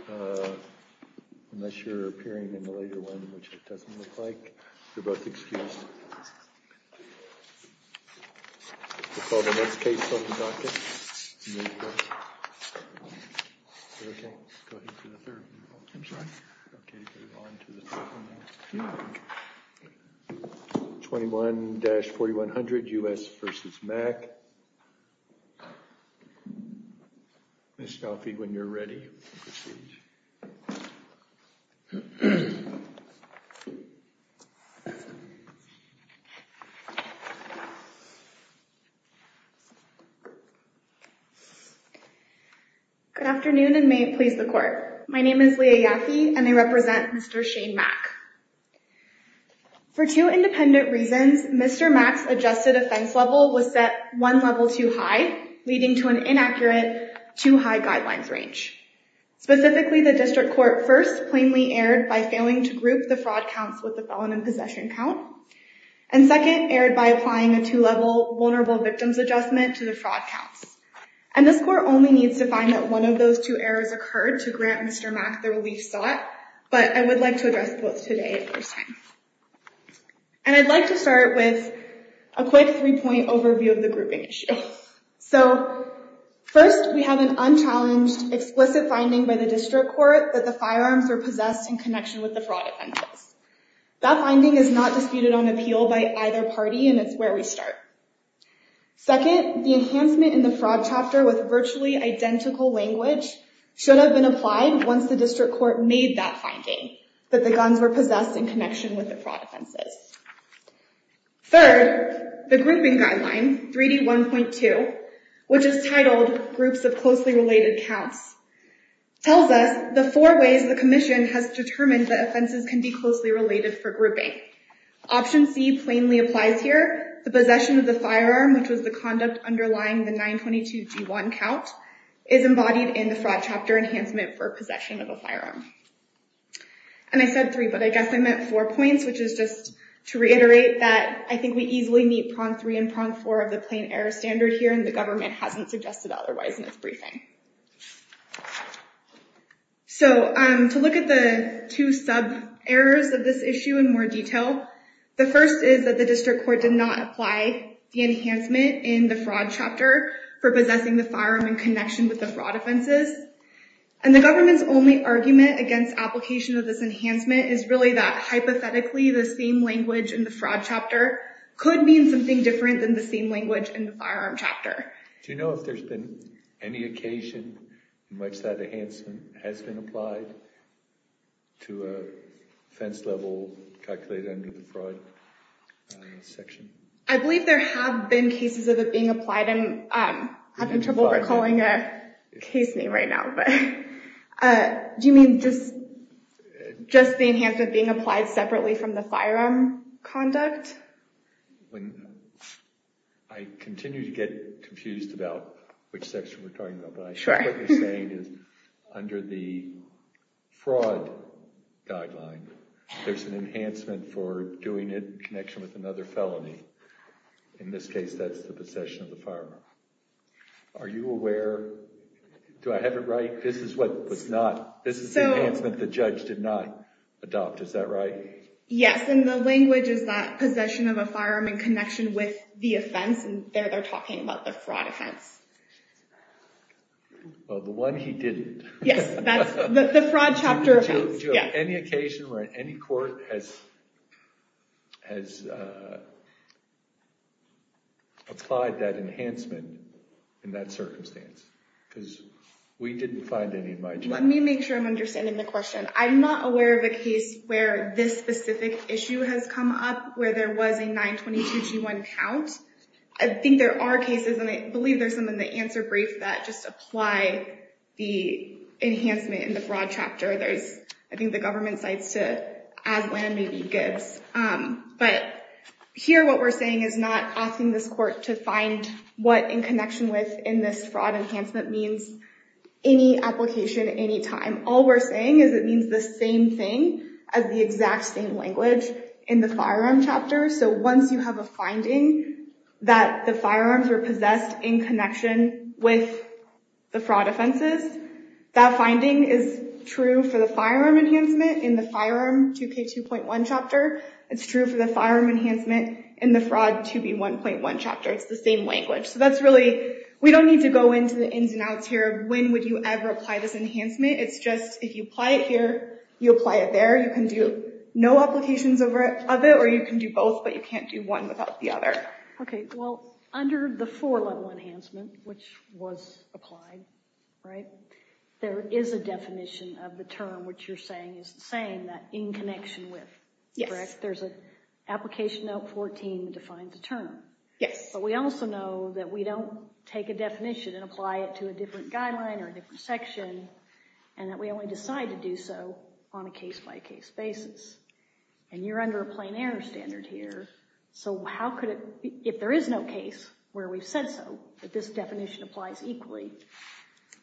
21-4100, U.S. v. Mack Ms. Scalfi, when you're ready, we'll proceed. Good afternoon, and may it please the court. My name is Leah Yaffe, and I represent Mr. Shane Mack. For two independent reasons, Mr. Mack's adjusted offense level was set one high guidelines range. Specifically, the district court first plainly erred by failing to group the fraud counts with the felon in possession count, and second, erred by applying a two-level vulnerable victims adjustment to the fraud counts. And this court only needs to find that one of those two errors occurred to grant Mr. Mack the relief sought, but I would like to address both today in person. And I'd like to start with a quick three-point overview of the grouping issue. So first, we have an unchallenged explicit finding by the district court that the firearms were possessed in connection with the fraud offenses. That finding is not disputed on appeal by either party, and it's where we start. Second, the enhancement in the fraud chapter with virtually identical language should have been applied once the district court made that finding, that the guns were possessed in connection with the fraud offenses. Third, the grouping guideline, 3D1.2, which is titled groups of closely related counts, tells us the four ways the commission has determined that offenses can be closely related for grouping. Option C plainly applies here. The possession of the firearm, which was the conduct underlying the 922G1 count, is embodied in the fraud chapter enhancement for possession of a firearm. And I said three, but I guess I meant four points, which is just to reiterate that I think we easily meet prong three and prong four of the plain error standard here, and the government hasn't suggested otherwise in its briefing. So to look at the two sub-errors of this issue in more detail, the first is that the district court did not apply the enhancement in the fraud chapter for possessing the firearm in And the government's only argument against application of this enhancement is really that hypothetically the same language in the fraud chapter could mean something different than the same language in the firearm chapter. Do you know if there's been any occasion in which that enhancement has been applied to a offense level calculated under the fraud section? I believe there have been cases of it being applied and I'm having trouble recalling a case name right now. Do you mean just the enhancement being applied separately from the firearm conduct? I continue to get confused about which section we're talking about, but what I'm saying is under the fraud guideline, there's an enhancement for doing it in connection with another felony. In this case, that's the possession of the firearm. Are you aware, do I have it right? This is what was not, this is the enhancement the judge did not adopt, is that right? Yes, and the language is that possession of a firearm in connection with the offense, and there they're talking about the fraud offense. Well, the one he didn't. Yes, that's the fraud chapter offense. Do you have any occasion where any court has applied that enhancement in that circumstance? Because we didn't find any in my job. Let me make sure I'm understanding the question. I'm not aware of a case where this specific issue has come up where there was a 922g1 count. I think there are cases, and I believe there's some in the answer brief that just apply the enhancement in the fraud chapter. There's, I may be good, but here what we're saying is not asking this court to find what in connection with in this fraud enhancement means. Any application, any time, all we're saying is it means the same thing as the exact same language in the firearm chapter. So once you have a finding that the firearms are possessed in connection with the fraud offenses, that finding is true for the 922g2.1 chapter. It's true for the firearm enhancement in the fraud 2b1.1 chapter. It's the same language. So that's really, we don't need to go into the ins and outs here. When would you ever apply this enhancement? It's just, if you apply it here, you apply it there. You can do no applications of it, or you can do both, but you can't do one without the other. Okay, well, under the four-level enhancement, which was applied, right, there is a definition of the term which you're saying is the same, that in connection with, correct? Yes. There's an application note 14 defined the term. Yes. But we also know that we don't take a definition and apply it to a different guideline or a different section, and that we only decide to do so on a case-by-case basis. And you're under a plain error standard here, so how could it, if there is no case where we've said so, but this definition applies equally,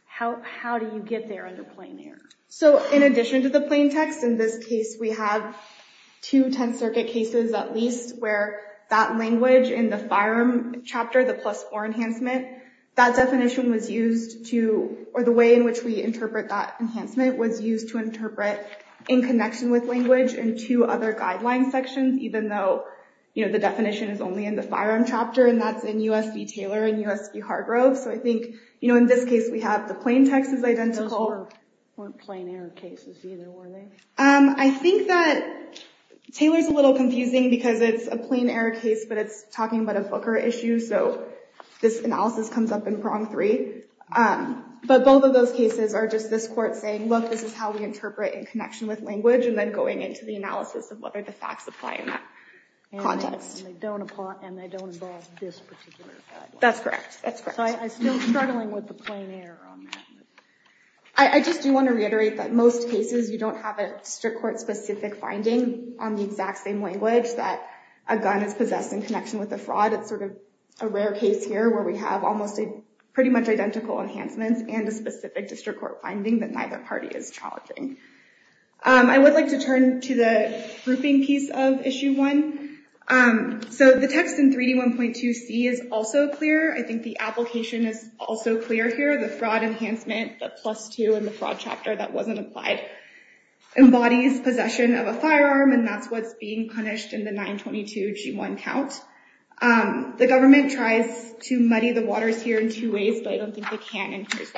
how do you get there under plain error? So in addition to the plain text, in this case we have two Tenth Circuit cases at least where that language in the firearm chapter, the plus four enhancement, that definition was used to, or the way in which we interpret that enhancement was used to interpret in connection with language and two other guideline sections, even though, you know, the definition is only in the firearm chapter, and that's in U.S. v. Taylor and U.S. v. Fargrove. So I think, you know, in this case we have the plain text is identical. Those weren't plain error cases either, were they? I think that Taylor's a little confusing because it's a plain error case, but it's talking about a booker issue, so this analysis comes up in prong three. But both of those cases are just this court saying, look, this is how we interpret in connection with language, and then going into the analysis of that context. That's correct. I just do want to reiterate that most cases you don't have a district court specific finding on the exact same language that a gun is possessed in connection with the fraud. It's sort of a rare case here where we have almost a pretty much identical enhancements and a specific district court finding that neither party is challenging. I would like to turn to the grouping piece of issue one. So the text in 3D1.2c is also clear. I think the application is also clear here. The fraud enhancement, the plus two in the fraud chapter that wasn't applied, embodies possession of a firearm, and that's what's being punished in the 922g1 count. The government tries to muddy the waters here in two ways, but I don't think they can in two ways.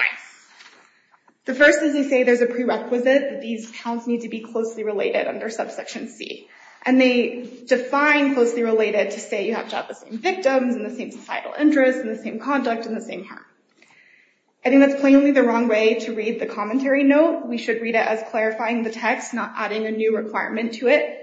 The first is they say there's a prerequisite that these counts need to be closely related under subsection C. And they define closely related to say you have to have the same victims, and the same societal interest, and the same conduct, and the same harm. I think that's plainly the wrong way to read the commentary note. We should read it as clarifying the text, not adding a new requirement to it.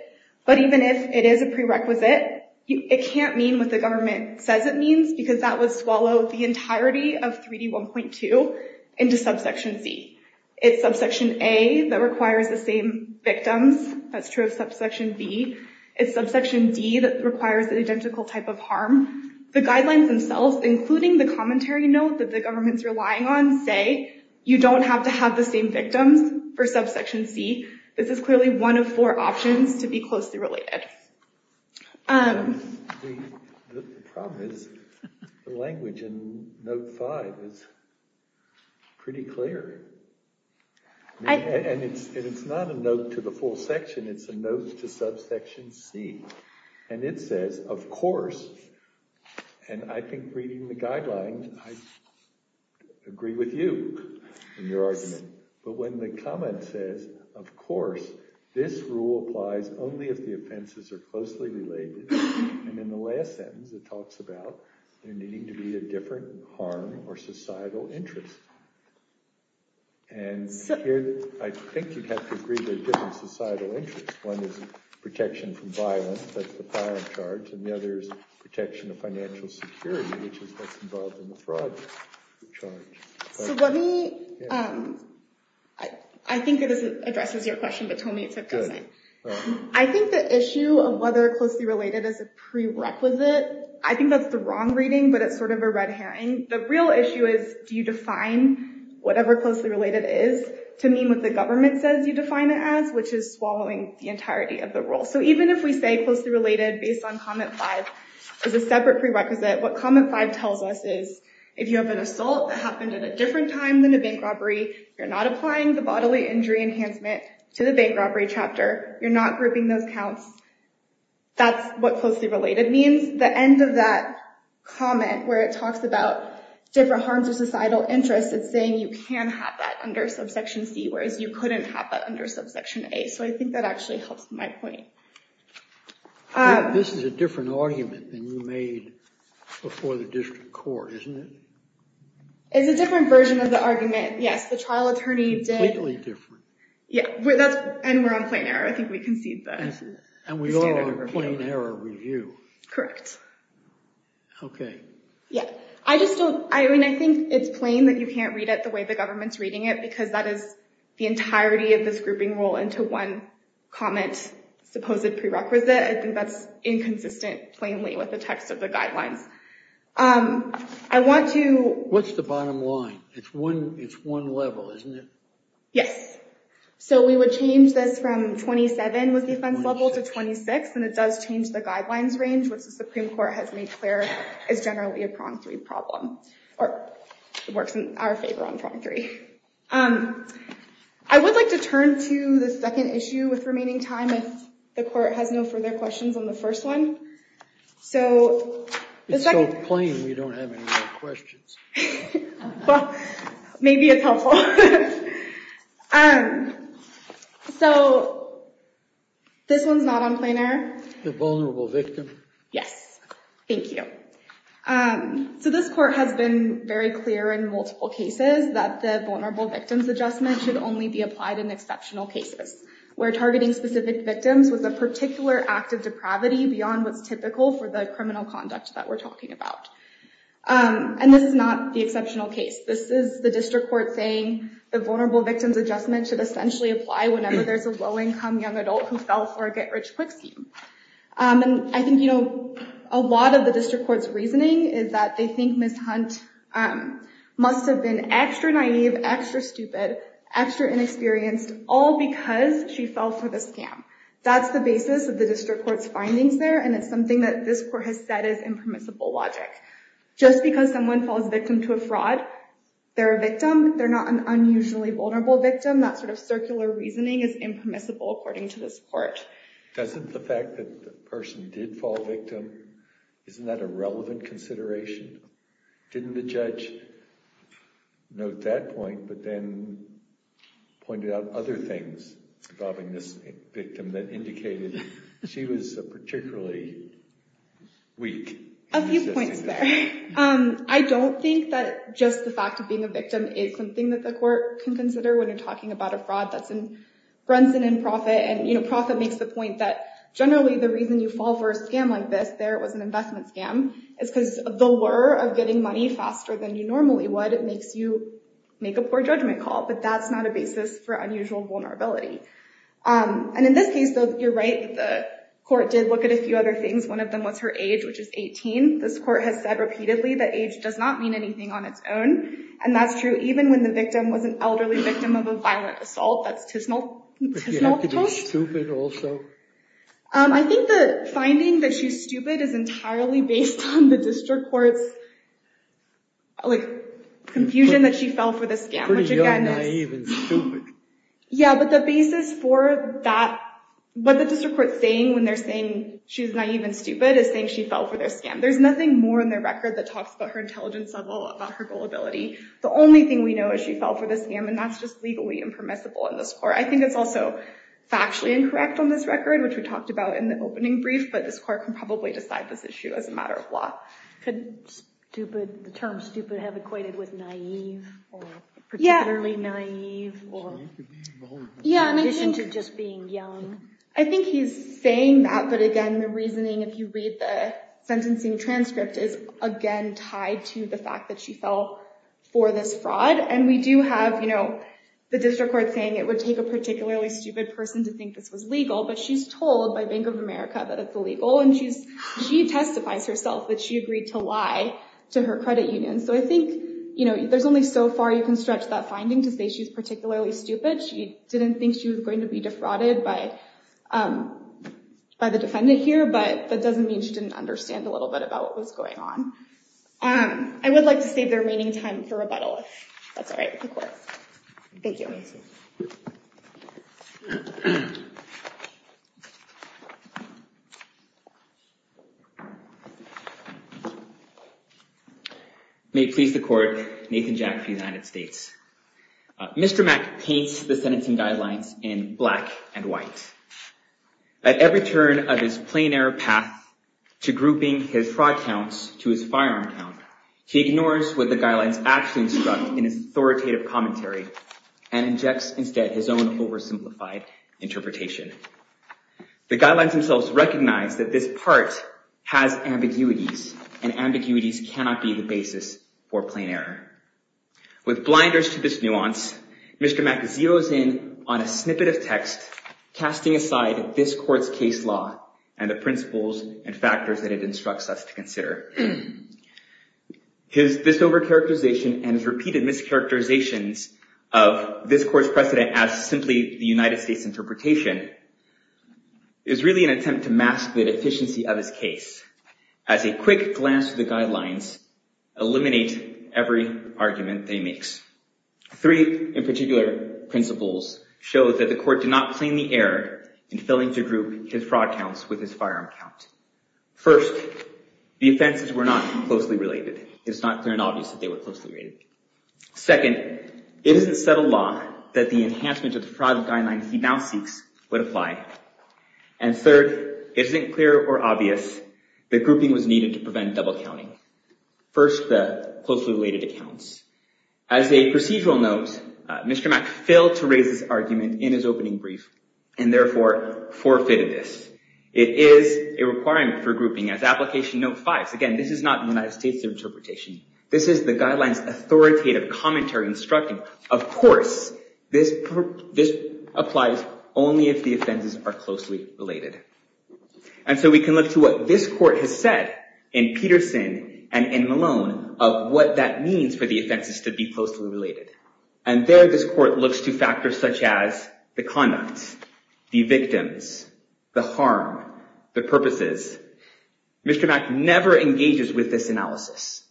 But even if it is a prerequisite, it can't mean what the government says it means, because that would swallow the entirety of 3D1.2 into subsection C. It's subsection A that requires the same victims. That's true of subsection B. It's subsection D that requires an identical type of harm. The guidelines themselves, including the commentary note that the government's relying on, say you don't have to have the same victims for subsection C. This is clearly one of four options to be closely related. The problem is the language in note 5 is pretty clear. And it's not a note to the full section. It's a note to subsection C. And it says, of course, and I think reading the only if the offenses are closely related. And in the last sentence, it talks about there needing to be a different harm or societal interest. And I think you'd have to agree there's different societal interests. One is protection from violence, that's the violent charge, and the other is protection of financial security, which is what's involved in the fraud charge. So let me, I think it addresses your question, but told me it's a present. I think the issue of whether closely related is a prerequisite, I think that's the wrong reading, but it's sort of a red herring. The real issue is do you define whatever closely related is to mean what the government says you define it as, which is swallowing the entirety of the rule. So even if we say closely related based on comment 5 is a separate prerequisite, what comment 5 tells us is if you have an assault that happened at a different time than a bank robbery, you're not applying the bodily injury enhancement to the bank robbery chapter, you're not grouping those counts, that's what closely related means. The end of that comment where it talks about different harms or societal interests, it's saying you can have that under subsection C, whereas you couldn't have that under subsection A. So I think that actually helps my point. This is a different argument than you made before the district court, isn't it? It's a different version of the argument, yes. The trial attorney did. Completely different. Yeah, and we're on plain error. I think we concede that. And we are on plain error review. Correct. Okay. Yeah. I just don't, I mean, I think it's plain that you can't read it the way the government's reading it because that is the entirety of this grouping rule into one comment supposed prerequisite. I think that's inconsistent, plainly, with the text of the guidelines. I want to... What's the bottom line? It's one level, isn't it? Yes. So we would change this from 27 with the offense level to 26, and it does change the guidelines range, which the Supreme Court has made clear is generally a prong three problem, or it works in our favor on prong three. I would like to turn to the second issue with remaining time if the court has no further questions on the first one. It's so plain we don't have any more questions. Well, maybe it's helpful. So this one's not on plain error. The vulnerable victim? Yes. Thank you. So this court has been very clear in multiple cases that the vulnerable victims was a particular act of depravity beyond what's typical for the criminal conduct that we're talking about. And this is not the exceptional case. This is the district court saying the vulnerable victims adjustment should essentially apply whenever there's a low-income young adult who fell for a get-rich-quick scheme. And I think a lot of the district court's reasoning is that they think Ms. Hunt must have been extra naive, extra stupid, extra inexperienced, all because she fell for the scam. That's the basis of the district court's findings there, and it's something that this court has said is impermissible logic. Just because someone falls victim to a fraud, they're a victim. They're not an unusually vulnerable victim. That sort of circular reasoning is impermissible according to this court. Doesn't the fact that the person did fall victim, isn't that a relevant consideration? Didn't the judge note that point but then pointed out other things involving this victim that indicated she was particularly weak? A few points there. I don't think that just the fact of being a victim is something that the court can consider when you're talking about a fraud that's in Brentson and Profit. And you know, Profit makes the point that generally the reason you fall for a scam like this, there was an investment scam, is because the lure of getting money faster than you normally would makes you a basis for unusual vulnerability. And in this case, you're right, the court did look at a few other things. One of them was her age, which is 18. This court has said repeatedly that age does not mean anything on its own, and that's true even when the victim was an elderly victim of a violent assault. That's Tisnell. I think the finding that she's stupid is entirely based on the district court's confusion that she fell for the scam. Yeah, but the basis for that, what the district court's saying when they're saying she's naive and stupid is saying she fell for their scam. There's nothing more in their record that talks about her intelligence level, about her gullibility. The only thing we know is she fell for the scam, and that's just legally impermissible in this court. I think it's also factually incorrect on this record, which we talked about in the matter of law. Could the term stupid have equated with naive, or particularly naive? Yeah, in addition to just being young. I think he's saying that, but again, the reasoning, if you read the sentencing transcript, is again tied to the fact that she fell for this fraud. And we do have, you know, the district court saying it would take a particularly stupid person to think this was legal, but she's told by Bank of America that it's illegal, and she testifies herself that she agreed to lie to her credit union. So I think, you know, there's only so far you can stretch that finding to say she's particularly stupid. She didn't think she was going to be defrauded by the defendant here, but that doesn't mean she didn't understand a little bit about what was going on. I would like to save their remaining time for rebuttal, if that's all right with the court. Thank you. May it please the court, Nathan Jack for the United States. Mr. Mack paints the sentencing guidelines in black and white. At every turn of his sentence, Mr. Mack does actually instruct in his authoritative commentary and injects instead his own oversimplified interpretation. The guidelines themselves recognize that this part has ambiguities, and ambiguities cannot be the basis for plain error. With blinders to this nuance, Mr. Mack zeroes in on a snippet of text, casting aside this court's case law and the principles and factors that it instructs us to consider. His overcharacterization and repeated mischaracterizations of this court's precedent as simply the United States interpretation is really an attempt to mask the deficiency of his case. As a quick glance at the guidelines, eliminate every argument that he makes. Three in particular principles show that the court did not claim the error in filling to group his fraud counts with his firearm count. First, the offenses were not closely related. It's not clear and obvious that they were closely related. Second, it isn't settled law that the enhancement of the fraud guidelines he now seeks would apply. And third, it isn't clear or obvious that grouping was needed to prevent double counting. First, the closely related accounts. As a procedural note, Mr. Mack failed to raise this argument in his opening brief, and therefore forfeited this. It is a requirement for grouping as application note fives. Again, this is not the United States interpretation. This is the guidelines authoritative commentary instructing. Of course, this applies only if the offenses are closely related. And so we can look to what this court has said in Peterson and in Malone of what that means for the offenses to be closely related. And there this court looks to factors such as the conduct, the victims, the harm, the purposes. Mr. Mack never engages with this analysis.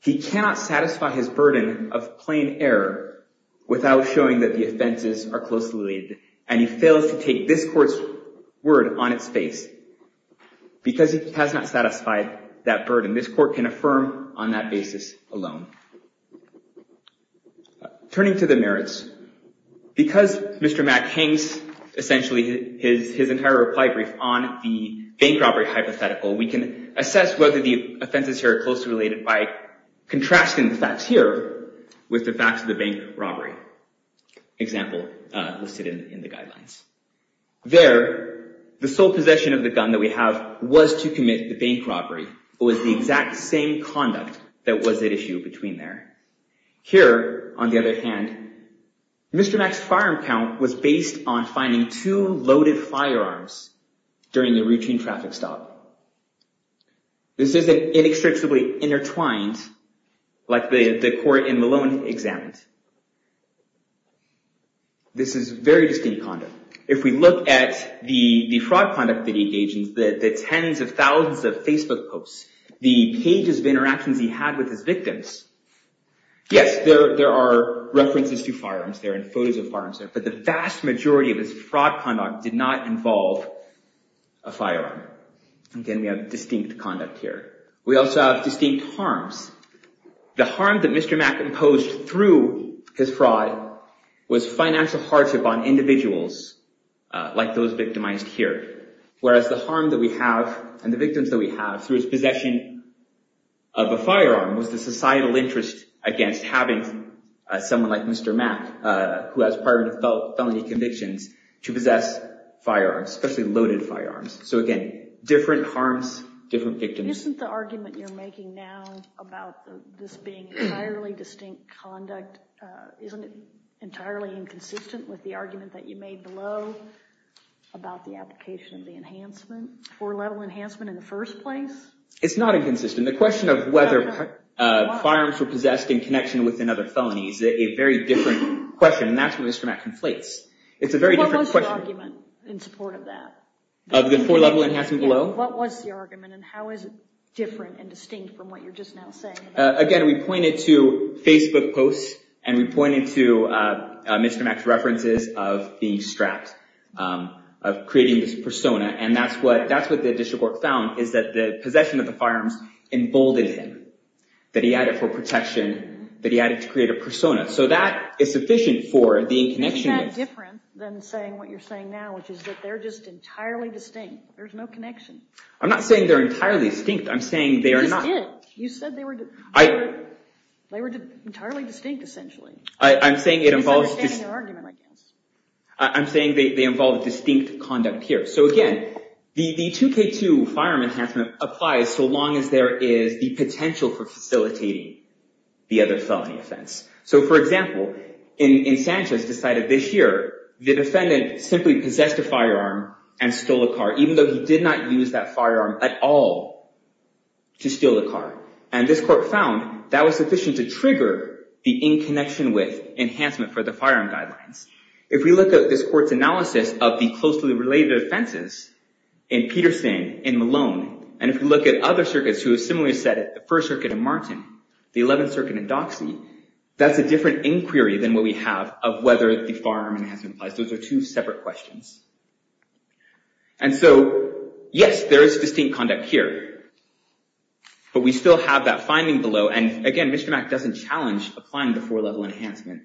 He cannot satisfy his burden of plain error without showing that the offenses are closely related, and he fails to take this court's word on its face because it has not satisfied that burden. This court can affirm on that basis alone. Turning to the merits, because Mr. Mack hangs essentially his entire reply brief on the bank robbery hypothetical, we can assess whether the offenses here are closely related by contrasting the facts here with the facts of the bank robbery example listed in the guidelines. There, the sole possession of the gun that we have was to commit the bank robbery. It was the exact same conduct that was at issue between there. Here, on the other hand, Mr. Mack's firearm count was based on finding two loaded firearms during the routine traffic stop. This isn't inextricably intertwined like the court in Malone examined. This is very distinct conduct. If we look at the fraud conduct that he engaged in, the tens of thousands of Facebook posts, the pages of interactions he had with his victims, yes, there are references to firearms there and photos of firearms there, but the vast majority of his fraud conduct did not involve a firearm. Again, we have distinct conduct here. We also have distinct harms. The harm that Mr. Mack imposed through his fraud was financial hardship on individuals like those victimized here, whereas the harm that we have and the victims that we have through his possession of a firearm was the societal interest against having someone like Mr. Mack, who has prior felony convictions, to possess firearms, especially loaded firearms. So again, different harms, different victims. Isn't the argument you're making now about this being entirely distinct conduct, isn't it entirely inconsistent with the argument that you made below about the application of the enhancement, four-level enhancement in the first place? It's not inconsistent. The question of whether firearms were possessed in connection with another felony is a very different question, and that's where Mr. Mack conflates. What was the argument in support of that? Of the four-level enhancement below? What was the argument, and how is it different and distinct from what you're just now saying? Again, we pointed to Facebook posts, and we pointed to Mr. Mack's references of being strapped, of creating this persona, and that's what the district court found is that the possession of the firearms emboldened him, that he had it for protection, that he had it to create a persona. So that is sufficient for the connection. Isn't that different than saying what you're saying now, which is that they're just entirely distinct? There's no connection. I'm not saying they're entirely distinct. I'm saying they are not. No, you didn't. You said they were entirely distinct, essentially. I'm saying it involves... Misunderstanding your argument, I guess. I'm saying they involve a distinct conduct here. So again, the 2K2 firearm enhancement applies so long as there is the potential for facilitating the other felony offense. So for example, in Sanchez decided this year the defendant simply possessed a firearm and stole a car, even though he did not use that firearm at all to steal the car. And this court found that was sufficient to trigger the in connection with enhancement for the firearm guidelines. If we look at this court's analysis of the closely related offenses in Peterson, in Malone, and if we look at other circuits who have similarly said it, the First Circuit in Martin, the 11th Circuit in Doxey, that's a different inquiry than what we have of whether the firearm enhancement applies. Those are two separate questions. And so, yes, there is distinct conduct here. But we still have that finding below. And again, Mr. Mack doesn't challenge applying the 4-level enhancement.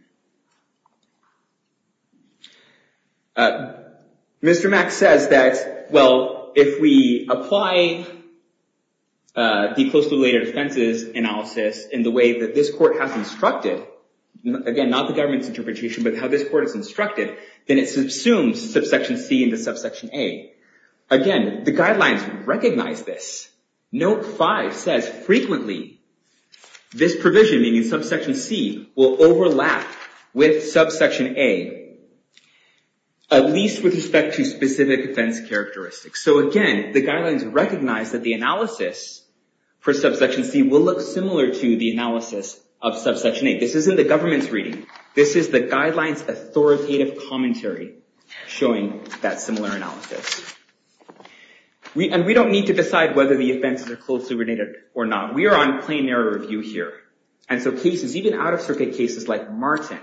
Mr. Mack says that, well, if we apply the closely related offenses analysis in the way that this court has instructed, again, not the government's interpretation, but how this court has instructed, then it subsumes subsection C into subsection A. Again, the guidelines recognize this. Note 5 says, frequently, this provision, meaning subsection C, will overlap with subsection A, at least with respect to specific offense characteristics. So again, the guidelines recognize that the analysis for subsection C will look similar to the analysis of subsection A. This isn't the government's reading. This is the guidelines authoritative commentary showing that similar analysis. And we don't need to decide whether the offenses are closely related or not. We are on plain narrative review here. And so cases, even out-of-circuit cases like Martin,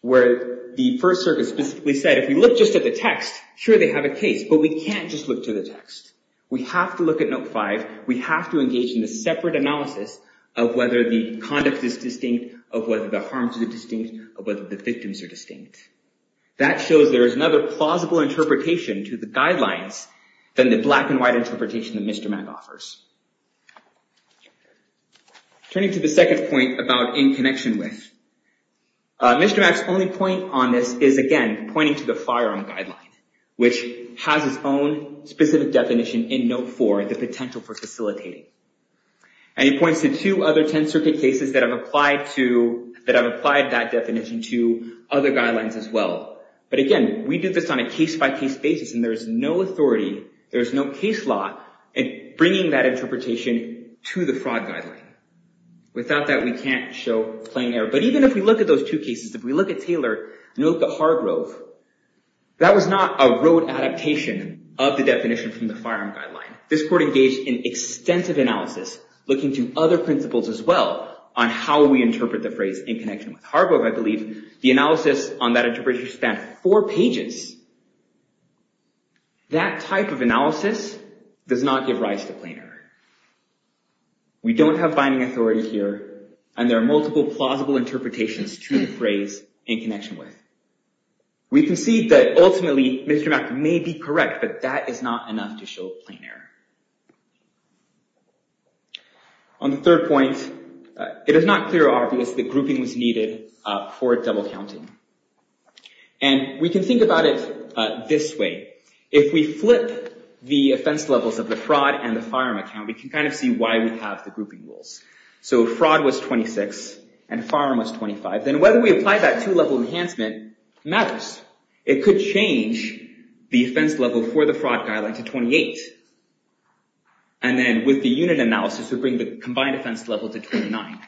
where the First Circuit specifically said, if you look just at the text, sure, they have a case. But we can't just look to the text. We have to look at Note 5. We have to engage in a separate analysis of whether the conduct is distinct, of whether the harms are distinct, of whether the victims are distinct. That shows there is another plausible interpretation to the guidelines than the black and white interpretation that Mr. Mack offers. Turning to the second point about in connection with, Mr. Mack's only point on this is, again, pointing to the firearm guideline, which has its own specific definition in Note 4, the potential for facilitating. And he points to two other Tenth Circuit cases that have applied that definition to other guidelines as well. But again, we do this on a case-by-case basis, and there is no authority, there is no case law, in bringing that interpretation to the fraud guideline. Without that, we can't show plain error. But even if we look at those two cases, if we look at Taylor and we look at Hargrove, that was not a rote adaptation of the definition from the firearm guideline. This court engaged in extensive analysis, looking to other principles as well, on how we interpret the phrase in connection with Hargrove, I believe. The analysis on that interpretation span four pages. That type of analysis does not give rise to plain error. We don't have binding authority here, and there are multiple plausible interpretations to the phrase in connection with. We can see that ultimately, Mr. Mack may be correct, but that is not enough to show plain error. On the third point, it is not clear or obvious that grouping was needed for double counting. And we can think about it this way. If we flip the offense levels of the fraud and the firearm account, we can see why we have the grouping rules. Fraud was 26, and firearm was 25. Then whether we apply that two-level enhancement matters. It could change the offense level for the fraud guideline to 28. And then with the unit analysis, it would bring the combined offense level to 29.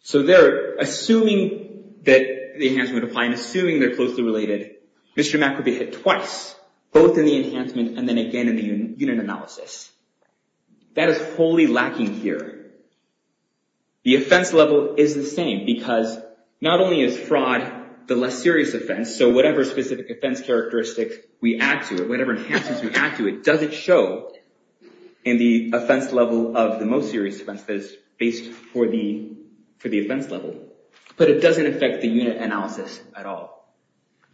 So they're assuming that the enhancement would apply, and assuming they're closely related, Mr. Mack would be hit twice, both in the enhancement and then again in the unit analysis. That is wholly lacking here. The offense level is the same, because not only is fraud the less serious offense, so whatever specific offense characteristics we add to it, whatever enhancements we add to it, it doesn't show in the offense level of the most serious offense that is based for the offense level. But it doesn't affect the unit analysis at all.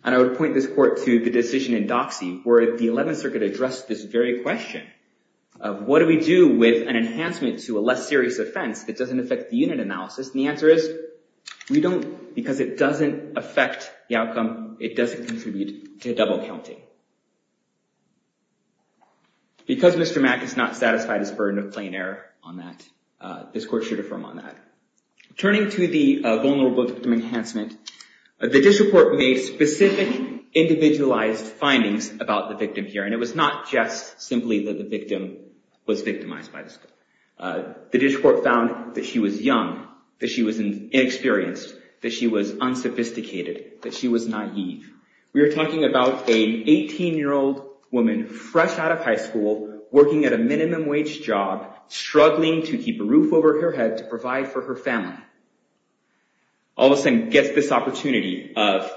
And I would point this court to the decision in Doxy, where the 11th Circuit addressed this very question of what do we do with an enhancement to a less serious offense that doesn't affect the unit analysis? And the answer is, because it doesn't affect the outcome, it doesn't contribute to double counting. Because Mr. Mack is not satisfied, he's burdened with plain error on that. This court should affirm on that. Turning to the vulnerable victim enhancement, the district court made specific individualized findings about the victim here. And it was not just simply that the victim was victimized by this court. The district court found that she was young, that she was inexperienced, that she was unsophisticated, that she was naive. We are talking about an 18-year-old woman, fresh out of high school, working at a minimum wage job, struggling to keep a roof over her head to provide for her family, all of a sudden gets this opportunity of,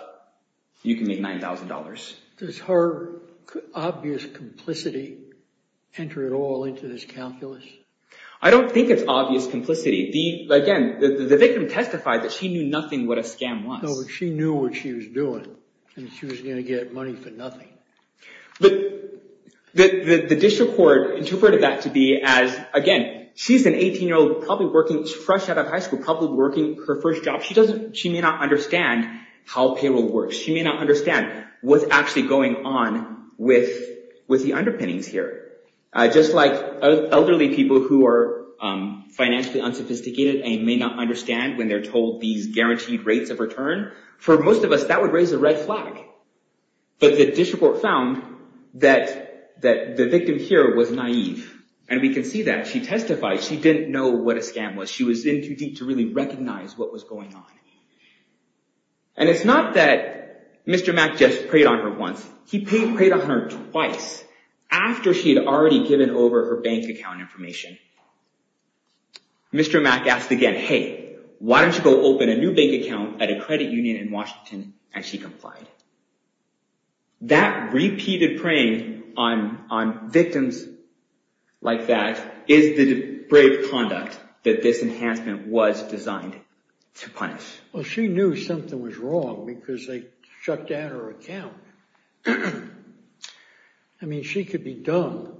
you can make $9,000. Does her obvious complicity enter at all into this calculus? I don't think it's obvious complicity. Again, the victim testified that she knew nothing what a scam was. No, but she knew what she was doing. And she was going to get money for nothing. The district court interpreted that to be as, again, she's an 18-year-old probably working fresh out of high school, probably working her first job. She may not understand how payroll works. She may not understand what's actually going on with the underpinnings here. Just like elderly people who are financially unsophisticated, and may not understand when they're told these guaranteed rates of return. For most of us, that would raise a red flag. But the district court found that the victim here was naive. And we can see that. She testified she didn't know what a scam was. She was in too deep to really recognize what was going on. And it's not that Mr. Mack just preyed on her once. He preyed on her twice, after she had already given over her bank account information. Mr. Mack asked again, hey, why don't you go open a new bank account at a credit union in Washington? And she complied. That repeated preying on victims like that is the brave conduct that this enhancement was designed to punish. Well, she knew something was wrong because they shut down her account. I mean, she could be dumb.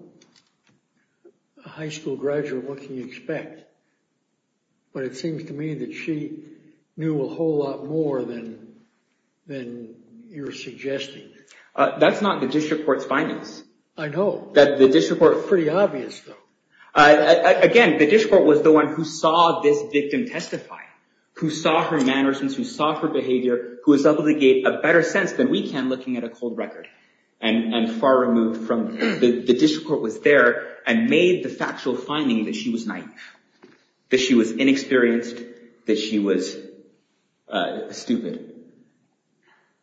A high school graduate, what can you expect? But it seems to me that she knew a whole lot more than you're suggesting. That's not the district court's findings. I know. The district court. Pretty obvious, though. Again, the district court was the one who saw this victim testify. Who saw her mannerisms. Who saw her behavior. Who was able to get a better sense than we can looking at a cold record. And far removed from... The district court was there and made the factual finding that she was naive. That she was inexperienced. That she was stupid.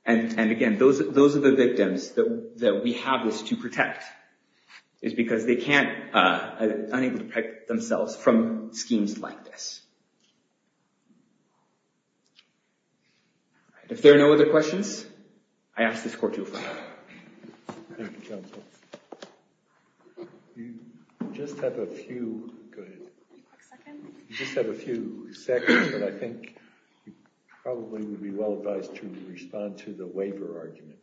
And again, those are the victims that we have this to protect. It's because they can't... Unable to protect themselves from schemes like this. If there are no other questions, I ask this court to adjourn. Thank you, counsel. You just have a few... Go ahead. You just have a few seconds, but I think you probably would be well advised to respond to the waiver argument.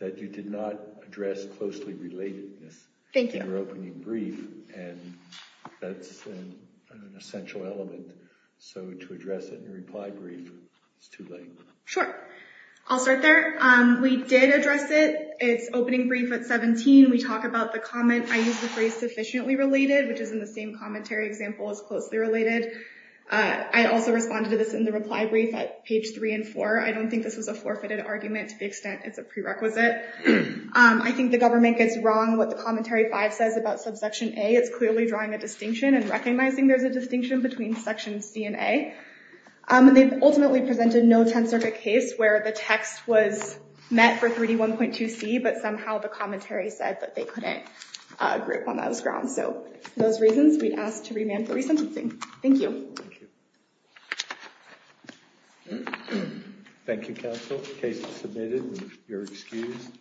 That you did not address closely relatedness. Thank you. In your opening brief. And that's an essential element. So to address it in your reply brief is too late. Sure. I'll start there. We did address it. It's opening brief at 17. We talk about the comment, I use the phrase sufficiently related, which is in the same commentary example as closely related. I also responded to this in the reply brief at page 3 and 4. I don't think this is a forfeited argument to the extent it's a prerequisite. I think the government gets wrong what the commentary 5 says about subsection A. It's clearly drawing a distinction and recognizing there's a distinction between section C and A. And they've ultimately presented no tenth circuit case where the text was met for 3D1.2C. But somehow the commentary said that they couldn't grip on those grounds. So for those reasons, we'd ask to remand for resentencing. Thank you. Thank you. Thank you, counsel. Case is submitted. You're excused.